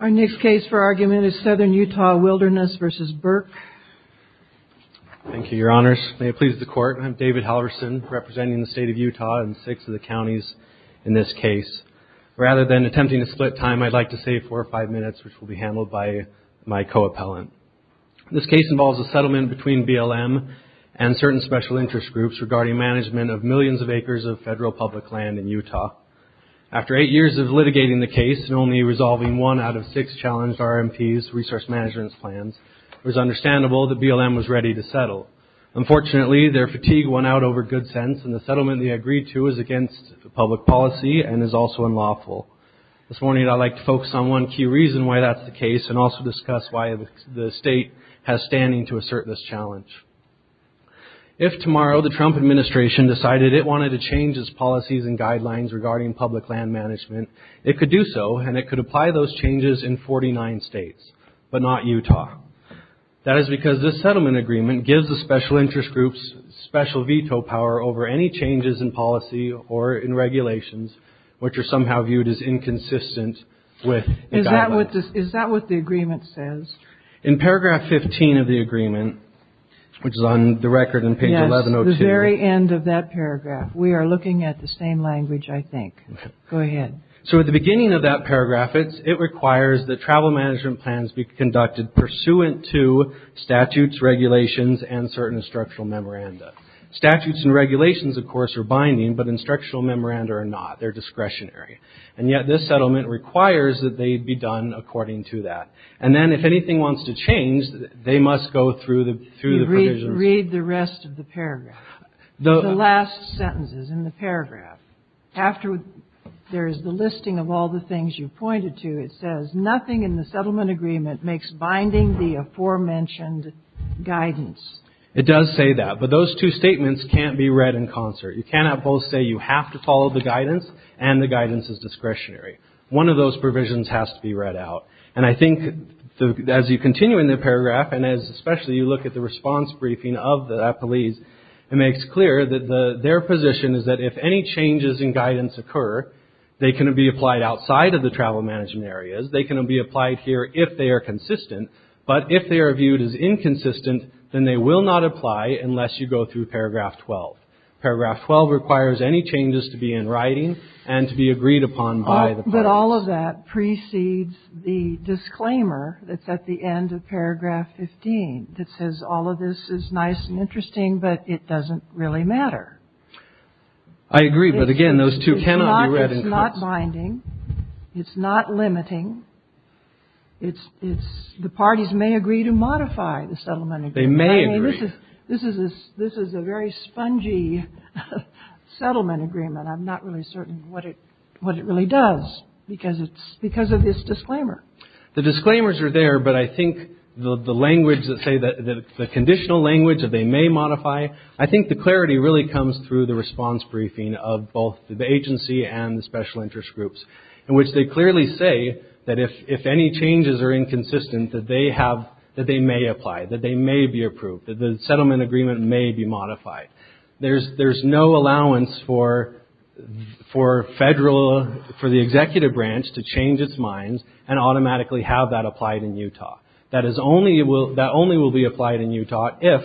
Our next case for argument is Southern Utah Wilderness v. Burke. Thank you, Your Honors. May it please the Court, I'm David Halverson, representing the State of Utah and six of the counties in this case. Rather than attempting to split time, I'd like to save four or five minutes, which will be handled by my co-appellant. This case involves a settlement between BLM and certain special interest groups regarding management of millions of acres of federal public land in Utah. After eight years of litigating the case and only resolving one out of six challenged RMP's resource management plans, it was understandable that BLM was ready to settle. Unfortunately, their fatigue won out over good sense, and the settlement they agreed to is against public policy and is also unlawful. This morning, I'd like to focus on one key reason why that's the case and also discuss why the state has standing to assert this challenge. If tomorrow the Trump administration decided it wanted to change its policies and guidelines regarding public land management, it could do so and it could apply those changes in 49 states, but not Utah. That is because this settlement agreement gives the special interest groups special veto power over any changes in policy or in regulations, which are somehow viewed as inconsistent with the guidelines. Is that what the agreement says? In paragraph 15 of the agreement, which is on the record in page 1102. Yes, the very end of that paragraph. We are looking at the same language, I think. Go ahead. So at the beginning of that paragraph, it requires that travel management plans be conducted pursuant to statutes, regulations, and certain instructional memoranda. Statutes and regulations, of course, are binding, but instructional memoranda are not. They're discretionary. And yet this settlement requires that they be done according to that. And then if anything wants to change, they must go through the provisions. Read the rest of the paragraph, the last sentences in the paragraph. After there is the listing of all the things you pointed to, it says nothing in the settlement agreement makes binding the aforementioned guidance. It does say that. But those two statements can't be read in concert. You cannot both say you have to follow the guidance and the guidance is discretionary. One of those provisions has to be read out. And I think as you continue in the paragraph, and especially as you look at the response briefing of the appellees, it makes clear that their position is that if any changes in guidance occur, they can be applied outside of the travel management areas. They can be applied here if they are consistent. But if they are viewed as inconsistent, then they will not apply unless you go through paragraph 12. Paragraph 12 requires any changes to be in writing and to be agreed upon by the public. But all of that precedes the disclaimer that's at the end of paragraph 15 that says all of this is nice and interesting, but it doesn't really matter. I agree. But again, those two cannot be read in concert. It's not binding. It's not limiting. It's the parties may agree to modify the settlement agreement. They may agree. This is a very spongy settlement agreement. I'm not really certain what it really does because of this disclaimer. The disclaimers are there, but I think the language that say that the conditional language that they may modify, I think the clarity really comes through the response briefing of both the agency and the special interest groups, in which they clearly say that if any changes are inconsistent, that they may apply, that they may be approved, that the settlement agreement may be modified. There's no allowance for the executive branch to change its mind and automatically have that applied in Utah. That only will be applied in Utah if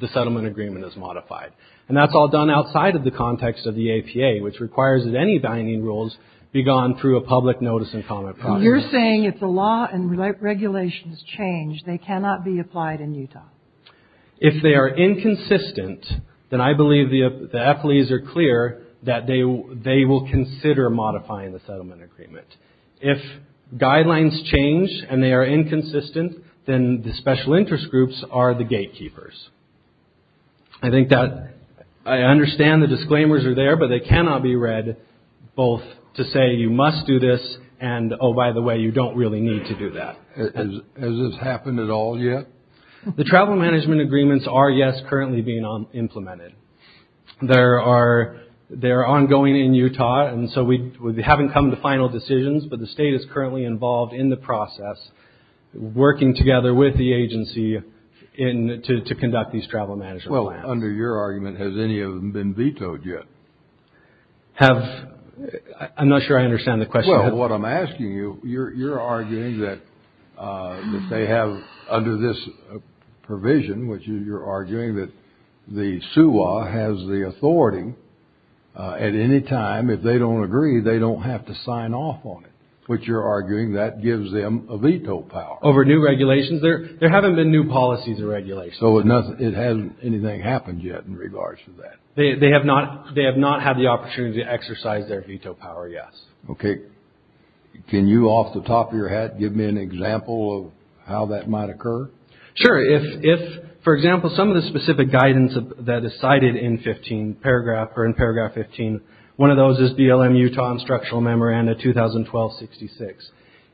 the settlement agreement is modified. And that's all done outside of the context of the APA, which requires that any binding rules be gone through a public notice and comment process. You're saying if the law and regulations change, they cannot be applied in Utah. If they are inconsistent, then I believe the affilies are clear that they will consider modifying the settlement agreement. If guidelines change and they are inconsistent, then the special interest groups are the gatekeepers. I think that I understand the disclaimers are there, but they cannot be read both to say you must do this and, oh, by the way, you don't really need to do that. Has this happened at all yet? The travel management agreements are, yes, currently being implemented. They are ongoing in Utah, and so we haven't come to final decisions, but the state is currently involved in the process working together with the agency to conduct these travel management plans. Well, under your argument, has any of them been vetoed yet? I'm not sure I understand the question. Well, what I'm asking you, you're arguing that they have under this provision, which you're arguing that the SUA has the authority at any time if they don't agree, they don't have to sign off on it, which you're arguing that gives them a veto power. Over new regulations? There haven't been new policies or regulations. So it hasn't anything happened yet in regards to that? They have not had the opportunity to exercise their veto power, yes. Okay. Can you, off the top of your head, give me an example of how that might occur? Sure. If, for example, some of the specific guidance that is cited in paragraph 15, one of those is BLM Utah Instructional Memoranda 2012-66.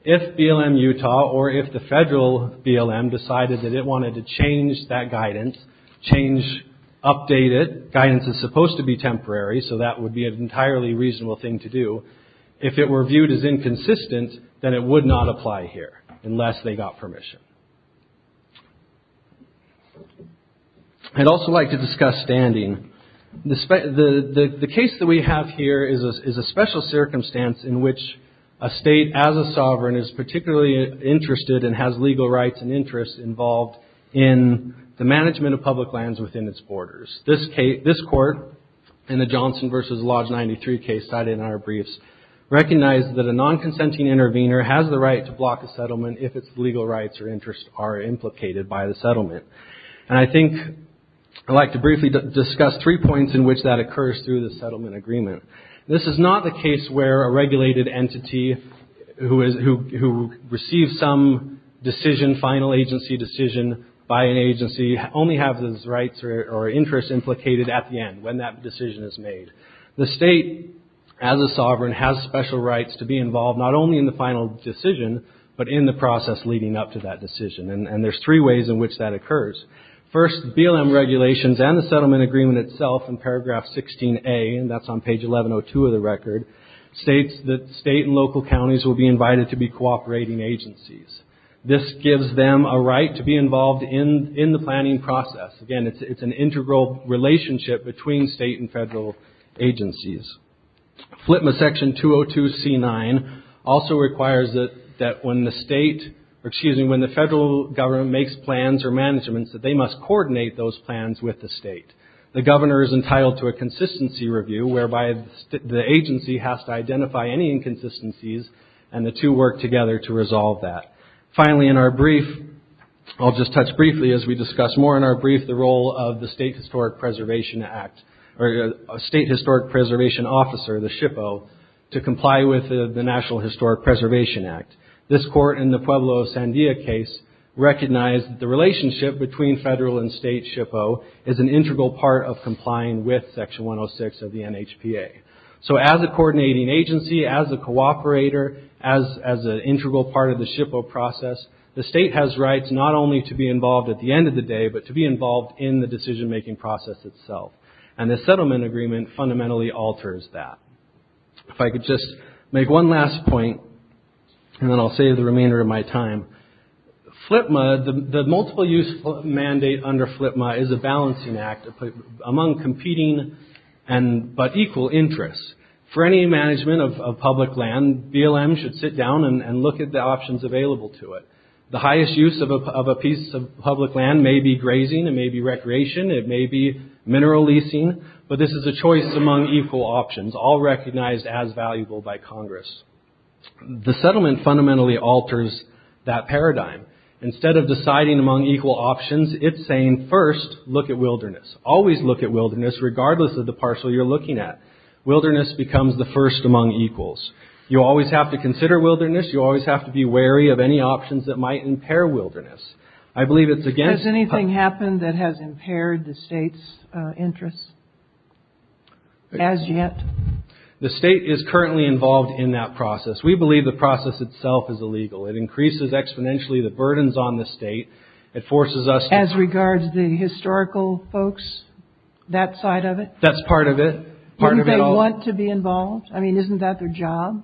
If BLM Utah or if the federal BLM decided that it wanted to change that guidance, change, update it, guidance is supposed to be temporary, so that would be an entirely reasonable thing to do, if it were viewed as inconsistent, then it would not apply here unless they got permission. I'd also like to discuss standing. The case that we have here is a special circumstance in which a state as a sovereign is particularly interested and has legal rights and interests involved in the management of public lands within its borders. This court in the Johnson v. Lodge 93 case cited in our briefs recognized that a non-consenting intervener has the right to block a settlement if its legal rights or interests are implicated by the settlement. And I think I'd like to briefly discuss three points in which that occurs through the settlement agreement. This is not the case where a regulated entity who receives some decision, final agency decision by an agency, only have those rights or interests implicated at the end, when that decision is made. The state as a sovereign has special rights to be involved not only in the final decision, but in the process leading up to that decision, and there's three ways in which that occurs. First, BLM regulations and the settlement agreement itself in paragraph 16A, and that's on page 1102 of the record, states that state and local counties will be invited to be cooperating agencies. This gives them a right to be involved in the planning process. Again, it's an integral relationship between state and federal agencies. FLPMA section 202c9 also requires that when the state, or excuse me, when the federal government makes plans or managements, that they must coordinate those plans with the state. The governor is entitled to a consistency review, whereby the agency has to identify any inconsistencies, and the two work together to resolve that. Finally, in our brief, I'll just touch briefly as we discuss more in our brief, the role of the State Historic Preservation Act, or State Historic Preservation Officer, the SHPO, to comply with the National Historic Preservation Act. This court in the Pueblo of Sandia case recognized the relationship between federal and state SHPO is an integral part of complying with section 106 of the NHPA. So as a coordinating agency, as a cooperator, as an integral part of the SHPO process, the state has rights not only to be involved at the end of the day, but to be involved in the decision-making process itself. And the settlement agreement fundamentally alters that. If I could just make one last point, and then I'll save the remainder of my time. FLPMA, the multiple use mandate under FLPMA is a balancing act among competing but equal interests. For any management of public land, BLM should sit down and look at the options available to it. The highest use of a piece of public land may be grazing, it may be recreation, it may be mineral leasing, but this is a choice among equal options, all recognized as valuable by Congress. The settlement fundamentally alters that paradigm. Instead of deciding among equal options, it's saying, first, look at wilderness. Always look at wilderness, regardless of the parcel you're looking at. Wilderness becomes the first among equals. You always have to consider wilderness, you always have to be wary of any options that might impair wilderness. I believe it's against... Has anything happened that has impaired the state's interests as yet? The state is currently involved in that process. We believe the process itself is illegal. It increases exponentially the burdens on the state. It forces us to... As regards the historical folks, that side of it? That's part of it. Don't they want to be involved? I mean, isn't that their job?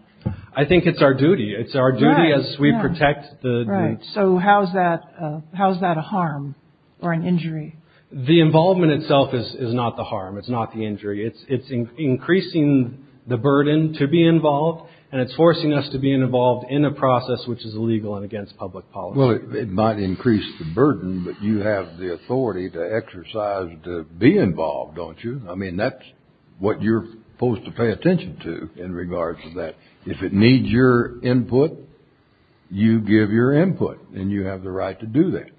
I think it's our duty. It's our duty as we protect the... Right. So how is that a harm or an injury? The involvement itself is not the harm, it's not the injury. It's increasing the burden to be involved, and it's forcing us to be involved in a process which is illegal and against public policy. Well, it might increase the burden, but you have the authority to exercise to be involved, don't you? I mean, that's what you're supposed to pay attention to in regards to that. If it needs your input, you give your input, and you have the right to do that.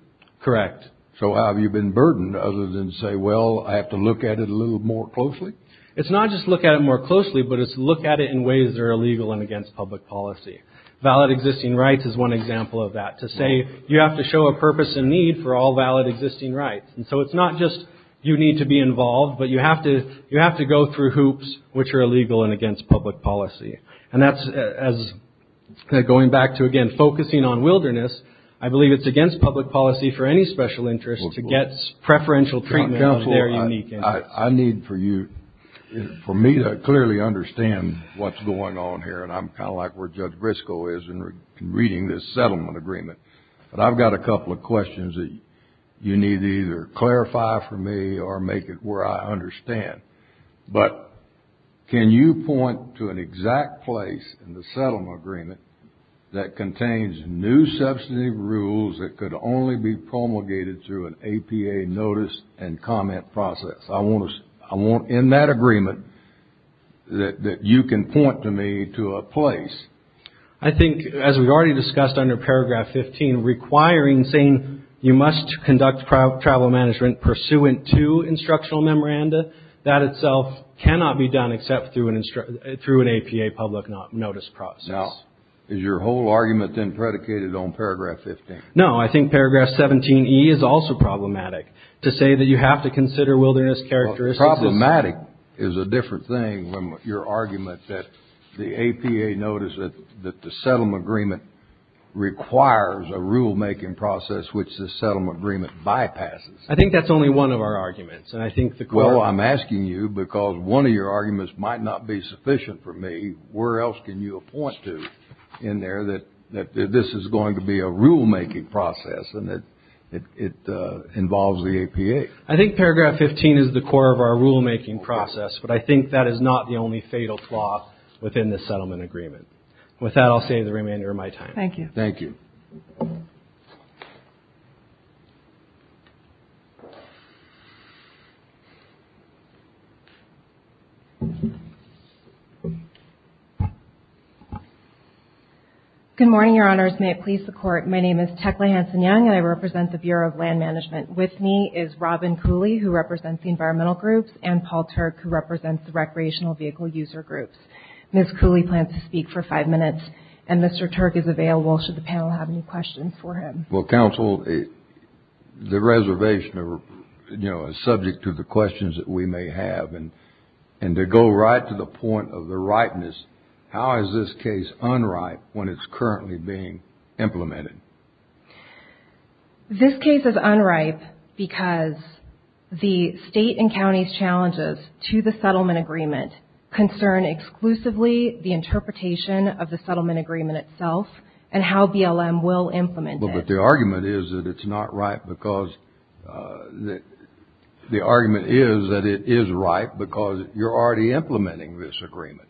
Correct. So how have you been burdened, other than say, well, I have to look at it a little more closely? It's not just look at it more closely, but it's look at it in ways that are illegal and against public policy. Valid existing rights is one example of that, to say you have to show a purpose and need for all valid existing rights. And so it's not just you need to be involved, but you have to go through hoops which are illegal and against public policy. And that's as going back to, again, focusing on wilderness, I believe it's against public policy for any special interest to get preferential treatment of their unique interests. I need for you, for me to clearly understand what's going on here, and I'm kind of like where Judge Briscoe is in reading this settlement agreement, but I've got a couple of questions that you need to either clarify for me or make it where I understand. But can you point to an exact place in the settlement agreement that contains new substantive rules that could only be promulgated through an APA notice and comment process? I want, in that agreement, that you can point to me to a place. I think, as we've already discussed under Paragraph 15, requiring saying you must conduct travel management pursuant to instructional memoranda, that itself cannot be done except through an APA public notice process. Now, is your whole argument then predicated on Paragraph 15? No, I think Paragraph 17E is also problematic, to say that you have to consider wilderness characteristics. Problematic is a different thing than your argument that the APA notice that the settlement agreement requires a rulemaking process which the settlement agreement bypasses. I think that's only one of our arguments, and I think the question is. Well, I'm asking you because one of your arguments might not be sufficient for me. Where else can you point to in there that this is going to be a rulemaking process and that it involves the APA? I think Paragraph 15 is the core of our rulemaking process, but I think that is not the only fatal flaw within the settlement agreement. With that, I'll save the remainder of my time. Thank you. Thank you. Good morning, Your Honors. May it please the Court. My name is Techley Hanson-Young, and I represent the Bureau of Land Management. With me is Robin Cooley, who represents the environmental groups, and Paul Turk, who represents the recreational vehicle user groups. Ms. Cooley plans to speak for five minutes, and Mr. Turk is available, should the panel have any questions for him. Well, Counsel, the reservation, you know, is subject to the questions that we may have, and to go right to the point of the ripeness, how is this case unripe when it's currently being implemented? This case is unripe because the state and county's challenges to the settlement agreement concern exclusively the interpretation of the settlement agreement itself and how BLM will implement it. But the argument is that it's not ripe because the argument is that it is ripe because you're already implementing this agreement.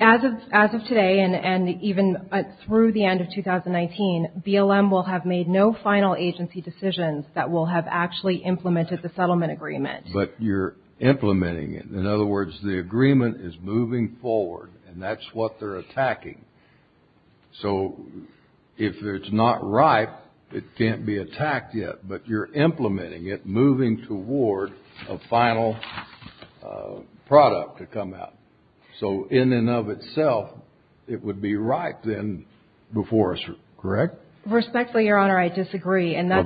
As of today, and even through the end of 2019, BLM will have made no final agency decisions that will have actually implemented the settlement agreement. But you're implementing it. In other words, the agreement is moving forward, and that's what they're attacking. So if it's not ripe, it can't be attacked yet, but you're implementing it, moving toward a final product to come out. So in and of itself, it would be ripe then before us, correct? Respectfully, Your Honor, I disagree, and that's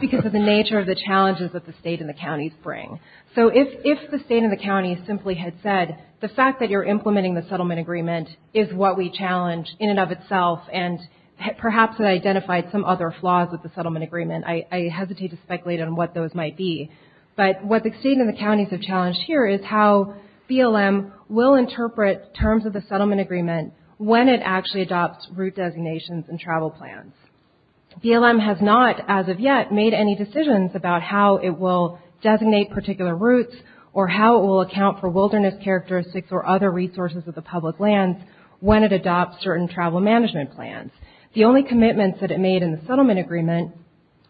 because of the nature of the challenges that the state and the counties bring. So if the state and the counties simply had said, the fact that you're implementing the settlement agreement is what we challenge in and of itself, and perhaps it identified some other flaws with the settlement agreement, I hesitate to speculate on what those might be. But what the state and the counties have challenged here is how BLM will interpret terms of the settlement agreement when it actually adopts route designations and travel plans. BLM has not, as of yet, made any decisions about how it will designate particular routes or how it will account for wilderness characteristics or other resources of the public lands when it adopts certain travel management plans. The only commitments that it made in the settlement agreement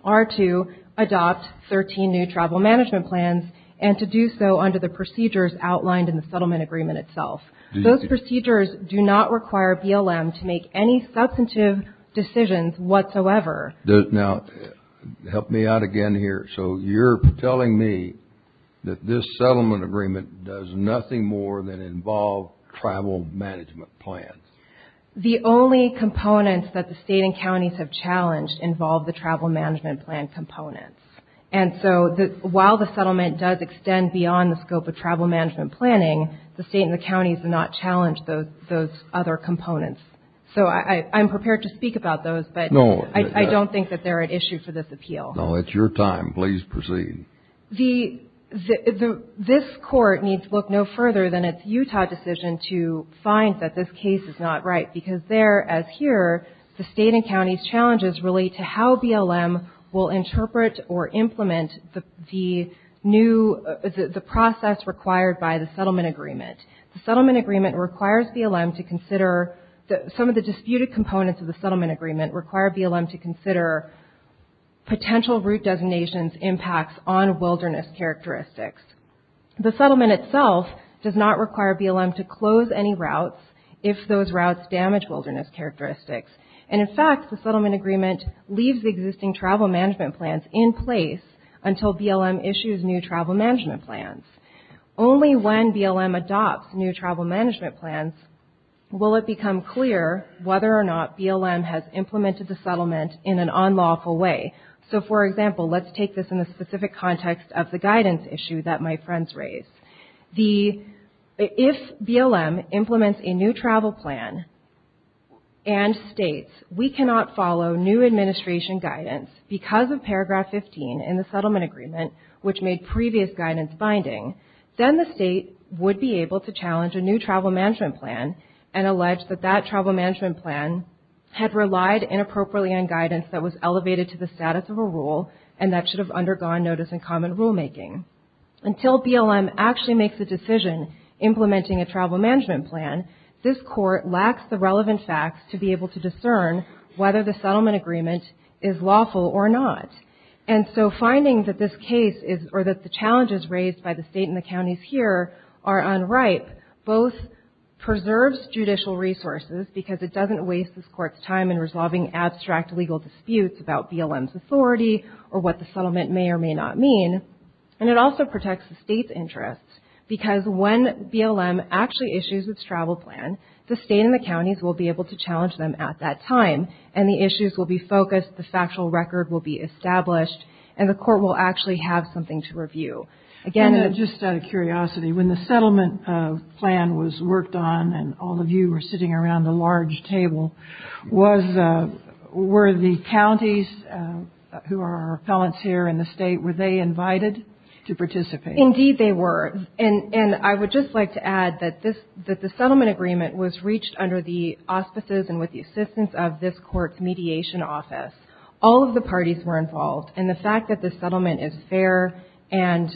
are to adopt 13 new travel management plans and to do so under the procedures outlined in the settlement agreement itself. Those procedures do not require BLM to make any substantive decisions whatsoever. Now, help me out again here. So you're telling me that this settlement agreement does nothing more than involve travel management plans. The only components that the state and counties have challenged involve the travel management plan components. And so while the settlement does extend beyond the scope of travel management planning, the state and the counties do not challenge those other components. So I'm prepared to speak about those. But I don't think that they're an issue for this appeal. No, it's your time. Please proceed. This court needs to look no further than its Utah decision to find that this case is not right because there, as here, the state and county's challenges relate to how BLM will interpret or implement the process required by the settlement agreement. The settlement agreement requires BLM to consider some of the disputed components of the settlement agreement require BLM to consider potential route designations impacts on wilderness characteristics. The settlement itself does not require BLM to close any routes if those routes damage wilderness characteristics. And in fact, the settlement agreement leaves the existing travel management plans in place until BLM issues new travel management plans. Only when BLM adopts new travel management plans will it become clear whether or not BLM has implemented the settlement in an unlawful way. So for example, let's take this in the specific context of the guidance issue that my friends raised. If BLM implements a new travel plan and states we cannot follow new administration guidance because of paragraph 15 in the settlement agreement which made previous guidance binding, then the state would be able to challenge a new travel management plan and allege that that travel management plan had relied inappropriately on guidance that was elevated to the status of a rule and that should have undergone notice in common rulemaking. Until BLM actually makes a decision implementing a travel management plan, this court lacks the relevant facts to be able to discern whether the settlement agreement is lawful or not. And so finding that this case is or that the challenges raised by the state and the counties here are unripe, both preserves judicial resources because it doesn't waste this court's time in resolving abstract legal disputes about BLM's authority or what the settlement may or may not mean, and it also protects the state's interests because when BLM actually issues its travel plan, the state and the counties will be able to challenge them at that time and the issues will be focused, the factual record will be established, and the court will actually have something to review. Again, it's just out of curiosity, when the settlement plan was worked on and all of you were sitting around the large table, were the counties who are appellants here in the state, were they invited to participate? Indeed they were. And I would just like to add that the settlement agreement was reached under the auspices and with the assistance of this court's mediation office. All of the parties were involved and the fact that this settlement is fair and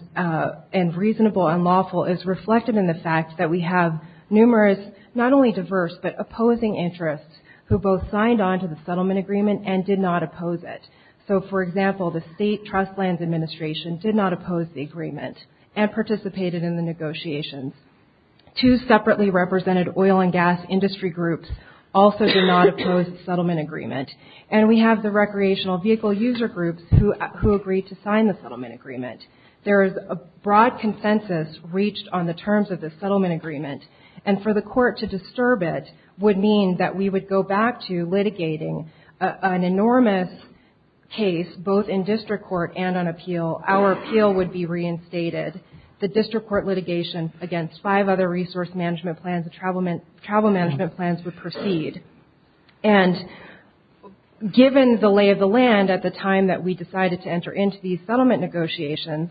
reasonable and lawful is reflected in the fact that we have numerous, not only diverse, but opposing interests who both signed on to the settlement agreement and did not oppose it. So for example, the State Trust Lands Administration did not oppose the agreement and participated in the negotiations. Two separately represented oil and gas industry groups also did not oppose the settlement agreement and we have the recreational vehicle user groups who agreed to sign the settlement agreement. There is a broad consensus reached on the terms of the settlement agreement and for the court to disturb it would mean that we would go back to litigating an enormous case, both in district court and on appeal. And given the lay of the land at the time that we decided to enter into these settlement negotiations,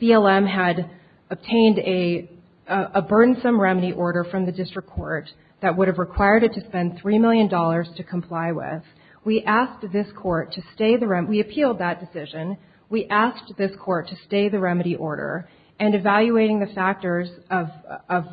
BLM had obtained a burdensome remedy order from the district court that would have required it to spend $3 million to comply with. We appealed that decision. We asked this court to stay the remedy order and evaluating the factors of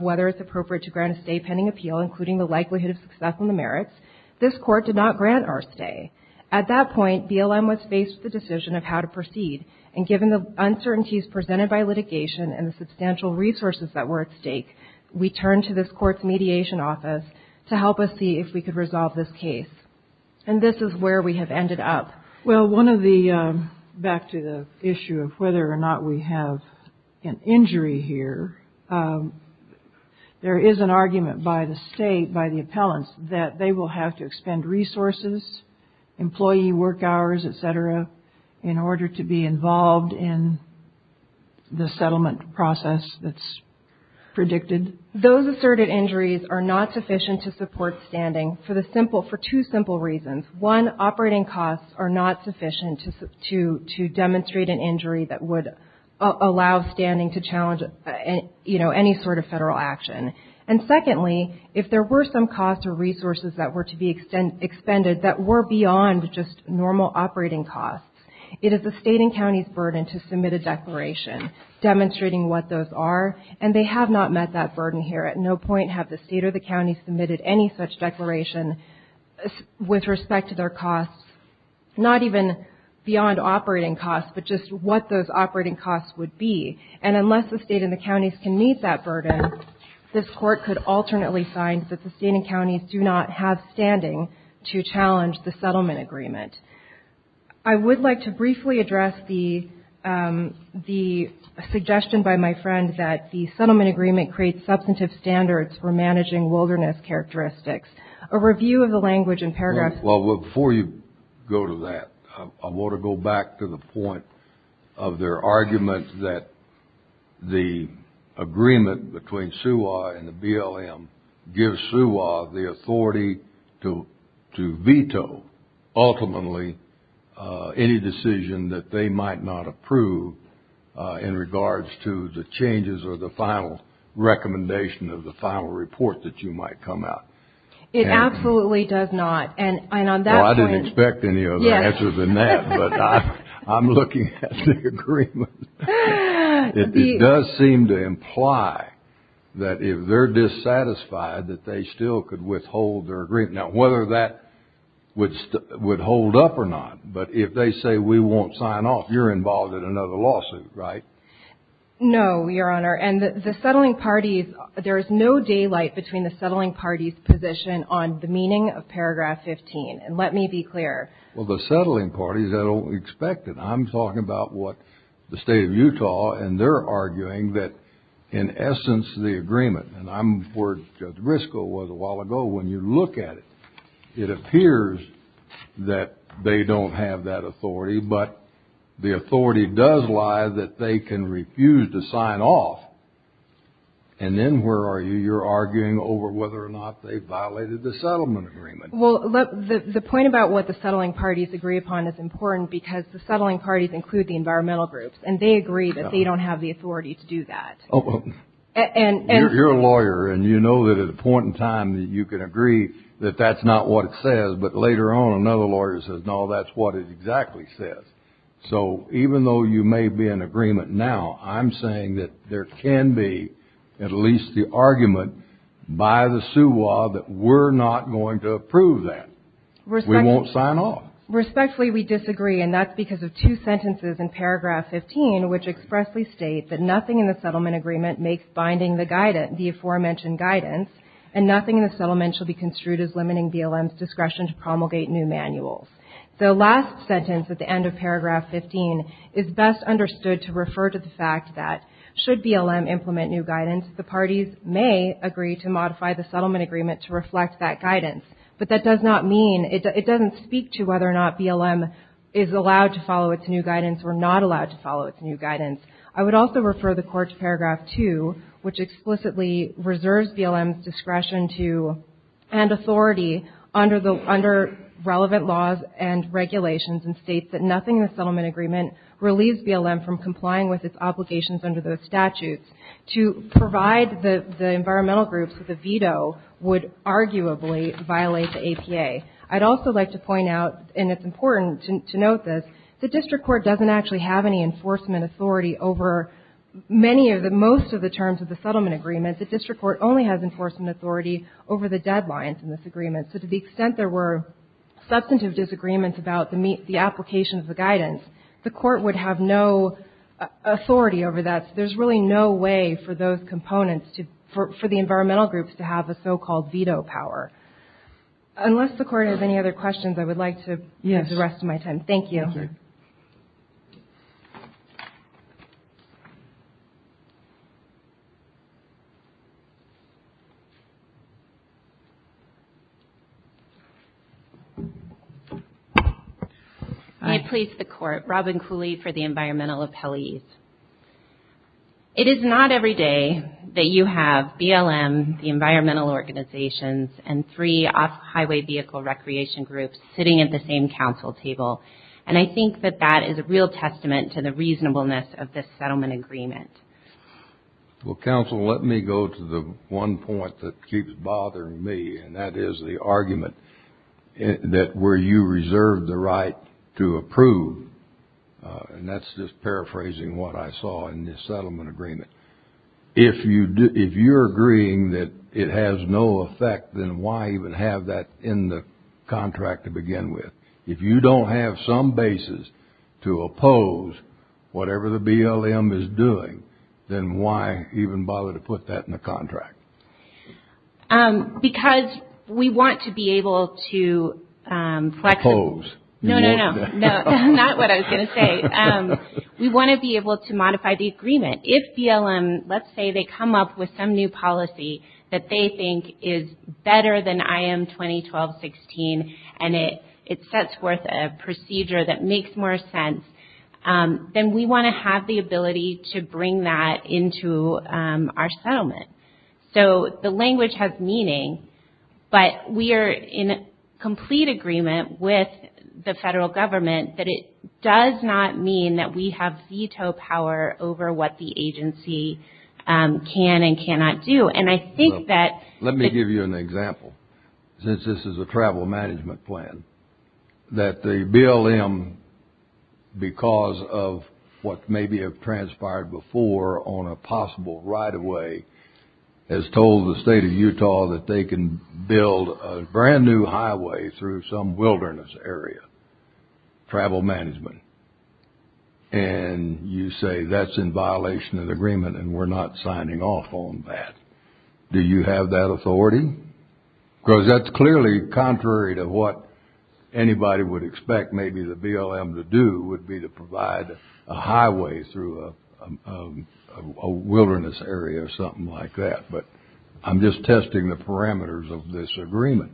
whether it's appropriate to grant a stay pending appeal, including the likelihood of success in the merits, this court did not grant our stay. At that point, BLM was faced with the decision of how to proceed and given the uncertainties presented by litigation and the substantial resources that were at stake, we turned to this court's mediation office to help us see if we could resolve this case and this is where we have ended up. Well, one of the, back to the issue of whether or not we have an injury here, there is an argument by the state, by the appellants, that they will have to expend resources, employee work hours, et cetera, in order to be involved in the settlement process that's predicted. Those asserted injuries are not sufficient to support standing for two simple reasons. One, operating costs are not sufficient to demonstrate an injury that would allow standing to challenge any sort of federal action. And secondly, if there were some costs or resources that were to be expended that were beyond just normal operating costs, it is the state and county's burden to submit a declaration demonstrating what those are and they have not met that burden here. At no point have the state or the county submitted any such declaration with respect to their costs, not even beyond operating costs, but just what those operating costs would be. And unless the state and the counties can meet that burden, this Court could alternately sign that the state and counties do not have standing to challenge the settlement agreement. I would like to briefly address the suggestion by my friend that the settlement agreement creates substantive standards for managing wilderness characteristics. A review of the language and paragraphs... Well, before you go to that, I want to go back to the point of their argument that the agreement between SUA and the BLM gives SUA the authority to veto ultimately any decision that they might not approve in regards to the changes or the final recommendation of the final report that you might come out. It absolutely does not, and on that point... Well, I didn't expect any other answers than that, but I'm looking at the agreement. It does seem to imply that if they're dissatisfied, that they still could withhold their agreement. Now, whether that would hold up or not, but if they say we won't sign off, you're involved in another lawsuit, right? No, Your Honor, and the settling parties... There is no daylight between the settling parties' position on the meaning of paragraph 15, and let me be clear. Well, the settling parties, I don't expect it. I'm talking about what the state of Utah, and they're arguing that, in essence, the agreement, and I'm where Judge Briscoe was a while ago. When you look at it, it appears that they don't have that authority, but the authority does lie that they can refuse to sign off. And then where are you? You're arguing over whether or not they violated the settlement agreement. Well, the point about what the settling parties agree upon is important, because the settling parties include the environmental groups, and they agree that they don't have the authority to do that. You're a lawyer, and you know that at a point in time that you can agree that that's not what it says, but later on another lawyer says, no, that's what it exactly says. So even though you may be in agreement now, I'm saying that there can be at least the argument by the SUA that we're not going to approve that. We won't sign off. Respectfully, we disagree, and that's because of two sentences in paragraph 15, which expressly state that nothing in the settlement agreement makes binding the aforementioned guidance, and nothing in the settlement shall be construed as limiting BLM's discretion to promulgate new manuals. The last sentence at the end of paragraph 15 is best understood to refer to the fact that should BLM implement new guidance, the parties may agree to modify the settlement agreement to reflect that guidance. But that does not mean — it doesn't speak to whether or not BLM is allowed to follow its new guidance or not allowed to follow its new guidance. I would also refer the Court to paragraph 2, which explicitly reserves BLM's discretion to and authority under the — under relevant laws and regulations and states that nothing in the settlement agreement relieves BLM from complying with its obligations under those statutes. To provide the environmental groups with a veto would arguably violate the APA. I'd also like to point out, and it's important to note this, the district court doesn't actually have any enforcement authority over many of the — most of the terms of the settlement agreement. The district court only has enforcement authority over the deadlines in this agreement. So to the extent there were substantive disagreements about the application of the guidance, the court would have no authority over that. There's really no way for those components to — for the environmental groups to have a so-called veto power. Unless the Court has any other questions, I would like to — Thank you. May it please the Court. Robin Cooley for the Environmental Appellees. It is not every day that you have BLM, the environmental organizations, and three off-highway vehicle recreation groups sitting at the same council table. And I think that that is a real testament to the reasonableness of this settlement agreement. Well, counsel, let me go to the one point that keeps bothering me, and that is the argument that where you reserved the right to approve — and that's just paraphrasing what I saw in this settlement agreement. If you're agreeing that it has no effect, then why even have that in the contract to begin with? If you don't have some basis to oppose whatever the BLM is doing, then why even bother to put that in the contract? Because we want to be able to — Oppose. No, no, no. Not what I was going to say. We want to be able to modify the agreement. If BLM — let's say they come up with some new policy that they think is better than IM-2012-16 and it sets forth a procedure that makes more sense, then we want to have the ability to bring that into our settlement. So the language has meaning, but we are in complete agreement with the federal government that it does not mean that we have veto power over what the agency can and cannot do. And I think that — that the BLM, because of what may be transpired before on a possible right-of-way, has told the state of Utah that they can build a brand-new highway through some wilderness area. Travel management. And you say that's in violation of the agreement and we're not signing off on that. Do you have that authority? Because that's clearly contrary to what anybody would expect maybe the BLM to do, would be to provide a highway through a wilderness area or something like that. But I'm just testing the parameters of this agreement.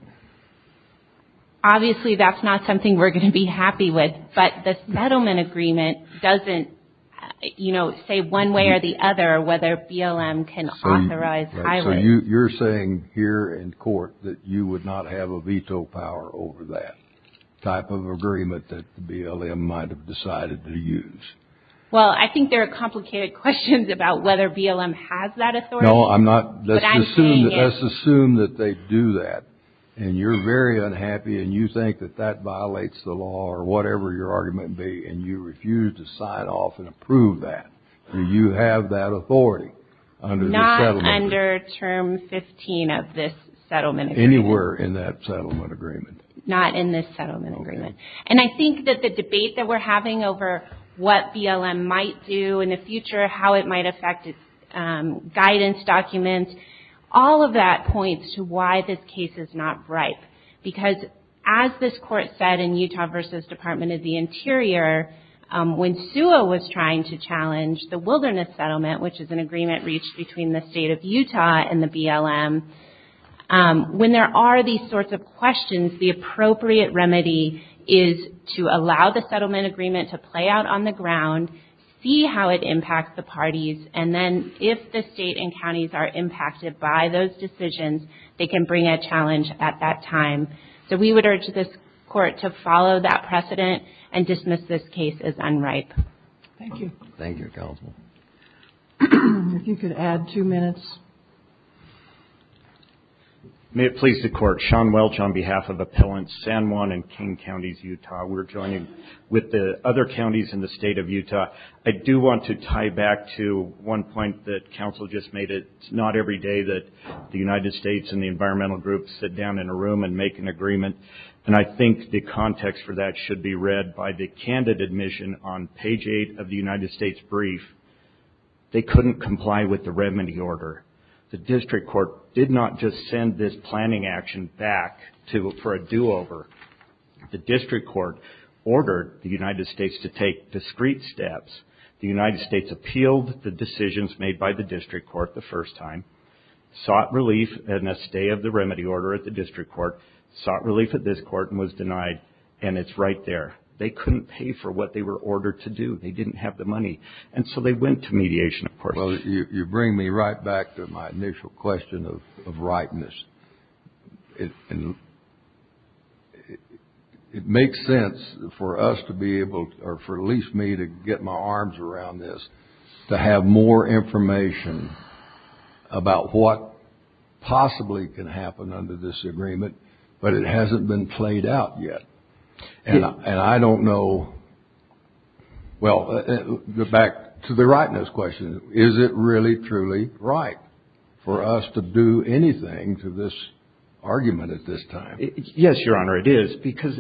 Obviously, that's not something we're going to be happy with. But the settlement agreement doesn't, you know, say one way or the other whether BLM can authorize highways. So you're saying here in court that you would not have a veto power over that type of agreement that the BLM might have decided to use. Well, I think there are complicated questions about whether BLM has that authority. No, I'm not — let's assume that they do that. And you're very unhappy and you think that that violates the law or whatever your argument may be, and you refuse to sign off and approve that. Do you have that authority under the settlement? Not under Term 15 of this settlement agreement. Anywhere in that settlement agreement? Not in this settlement agreement. And I think that the debate that we're having over what BLM might do in the future, how it might affect its guidance documents, all of that points to why this case is not ripe. Because as this Court said in Utah v. Department of the Interior, when SUA was trying to challenge the wilderness settlement, which is an agreement reached between the State of Utah and the BLM, when there are these sorts of questions, the appropriate remedy is to allow the settlement agreement to play out on the ground, see how it impacts the parties, and then if the State and counties are impacted by those decisions, they can bring a challenge at that time. So we would urge this Court to follow that precedent and dismiss this case as unripe. Thank you. Thank you, Counsel. If you could add two minutes. May it please the Court. Sean Welch on behalf of Appellants San Juan and Kane Counties, Utah. We're joining with the other counties in the State of Utah. I do want to tie back to one point that Counsel just made. It's not every day that the United States and the environmental groups sit down in a room and make an agreement, and I think the context for that should be read by the candidate mission on page 8 of the United States brief. They couldn't comply with the remedy order. The District Court did not just send this planning action back for a do-over. The District Court ordered the United States to take discreet steps. The United States appealed the decisions made by the District Court the first time, sought relief and a stay of the remedy order at the District Court, sought relief at this court and was denied, and it's right there. They couldn't pay for what they were ordered to do. They didn't have the money, and so they went to mediation, of course. Well, you bring me right back to my initial question of rightness. It makes sense for us to be able, or for at least me to get my arms around this, to have more information about what possibly can happen under this agreement, but it hasn't been played out yet. And I don't know, well, back to the rightness question. Is it really, truly right for us to do anything to this argument at this time? Yes, Your Honor, it is, because,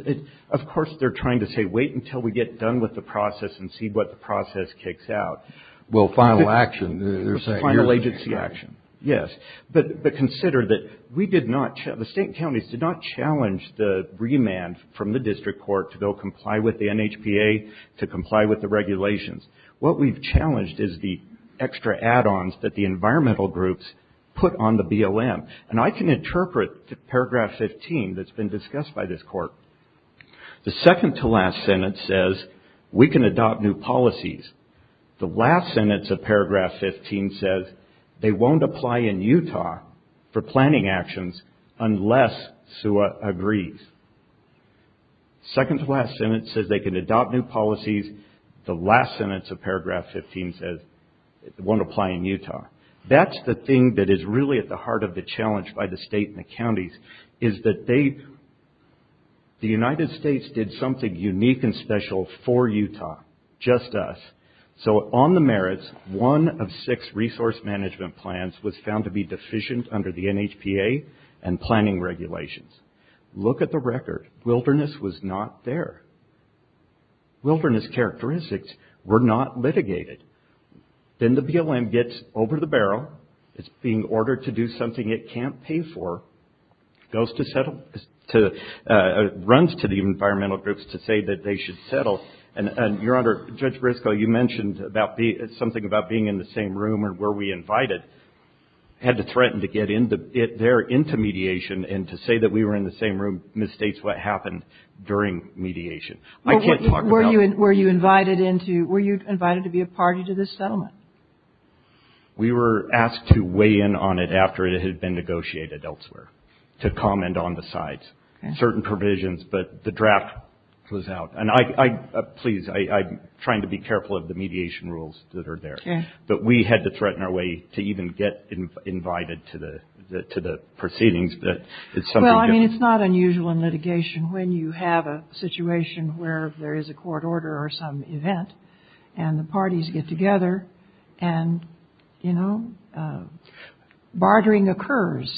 of course, they're trying to say wait until we get done with the process and see what the process kicks out. Well, final action, they're saying. Final agency action, yes. But consider that we did not, the state counties did not challenge the remand from the District Court to go comply with the NHPA, to comply with the regulations. What we've challenged is the extra add-ons that the environmental groups put on the BOM. And I can interpret paragraph 15 that's been discussed by this Court. The second-to-last sentence says we can adopt new policies. The last sentence of paragraph 15 says they won't apply in Utah for planning actions unless SUA agrees. Second-to-last sentence says they can adopt new policies. The last sentence of paragraph 15 says it won't apply in Utah. That's the thing that is really at the heart of the challenge by the state and the counties, is that the United States did something unique and special for Utah, just us. So on the merits, one of six resource management plans was found to be deficient under the NHPA and planning regulations. Look at the record. Wilderness was not there. Wilderness characteristics were not litigated. Then the BLM gets over the barrel. It's being ordered to do something it can't pay for. Goes to settle, runs to the environmental groups to say that they should settle. And, Your Honor, Judge Briscoe, you mentioned something about being in the same room where we invited. Had to threaten to get there into mediation, and to say that we were in the same room misstates what happened during mediation. I can't talk about. Were you invited to be a party to this settlement? We were asked to weigh in on it after it had been negotiated elsewhere, to comment on the sides. Certain provisions, but the draft was out. And please, I'm trying to be careful of the mediation rules that are there. But we had to threaten our way to even get invited to the proceedings. Well, I mean, it's not unusual in litigation when you have a situation where there is a court order or some event and the parties get together. And, you know, bartering occurs.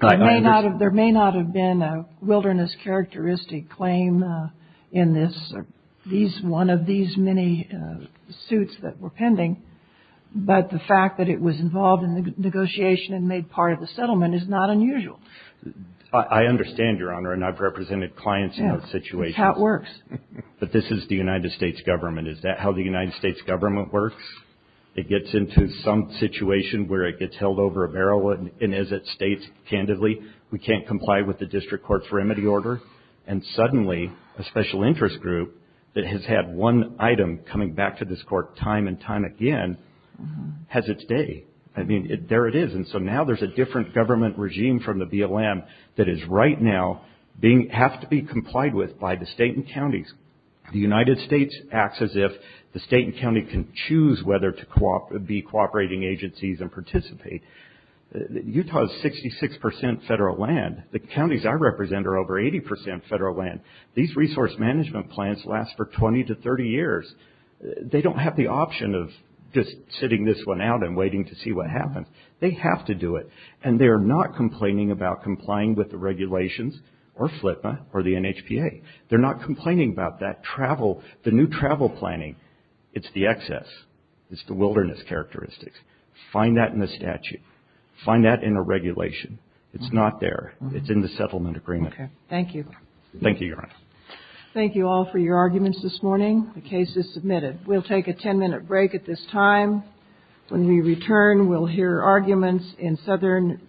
There may not have been a wilderness characteristic claim in this, one of these many suits that were pending. But the fact that it was involved in the negotiation and made part of the settlement is not unusual. I understand, Your Honor, and I've represented clients in those situations. That's how it works. But this is the United States government. Is that how the United States government works? It gets into some situation where it gets held over a barrel and as it states candidly, we can't comply with the district court's remedy order. And suddenly a special interest group that has had one item coming back to this court time and time again has its day. I mean, there it is. And so now there's a different government regime from the BLM that is right now being, have to be complied with by the state and counties. The United States acts as if the state and county can choose whether to be cooperating agencies and participate. Utah is 66% federal land. The counties I represent are over 80% federal land. These resource management plans last for 20 to 30 years. They don't have the option of just sitting this one out and waiting to see what happens. They have to do it. And they're not complaining about complying with the regulations or FLTMA or the NHPA. They're not complaining about that travel, the new travel planning. It's the excess. It's the wilderness characteristics. Find that in the statute. Find that in a regulation. It's not there. It's in the settlement agreement. Okay. Thank you. Thank you, Your Honor. Thank you all for your arguments this morning. The case is submitted. We'll take a 10-minute break at this time. When we return, we'll hear arguments in southern Utah.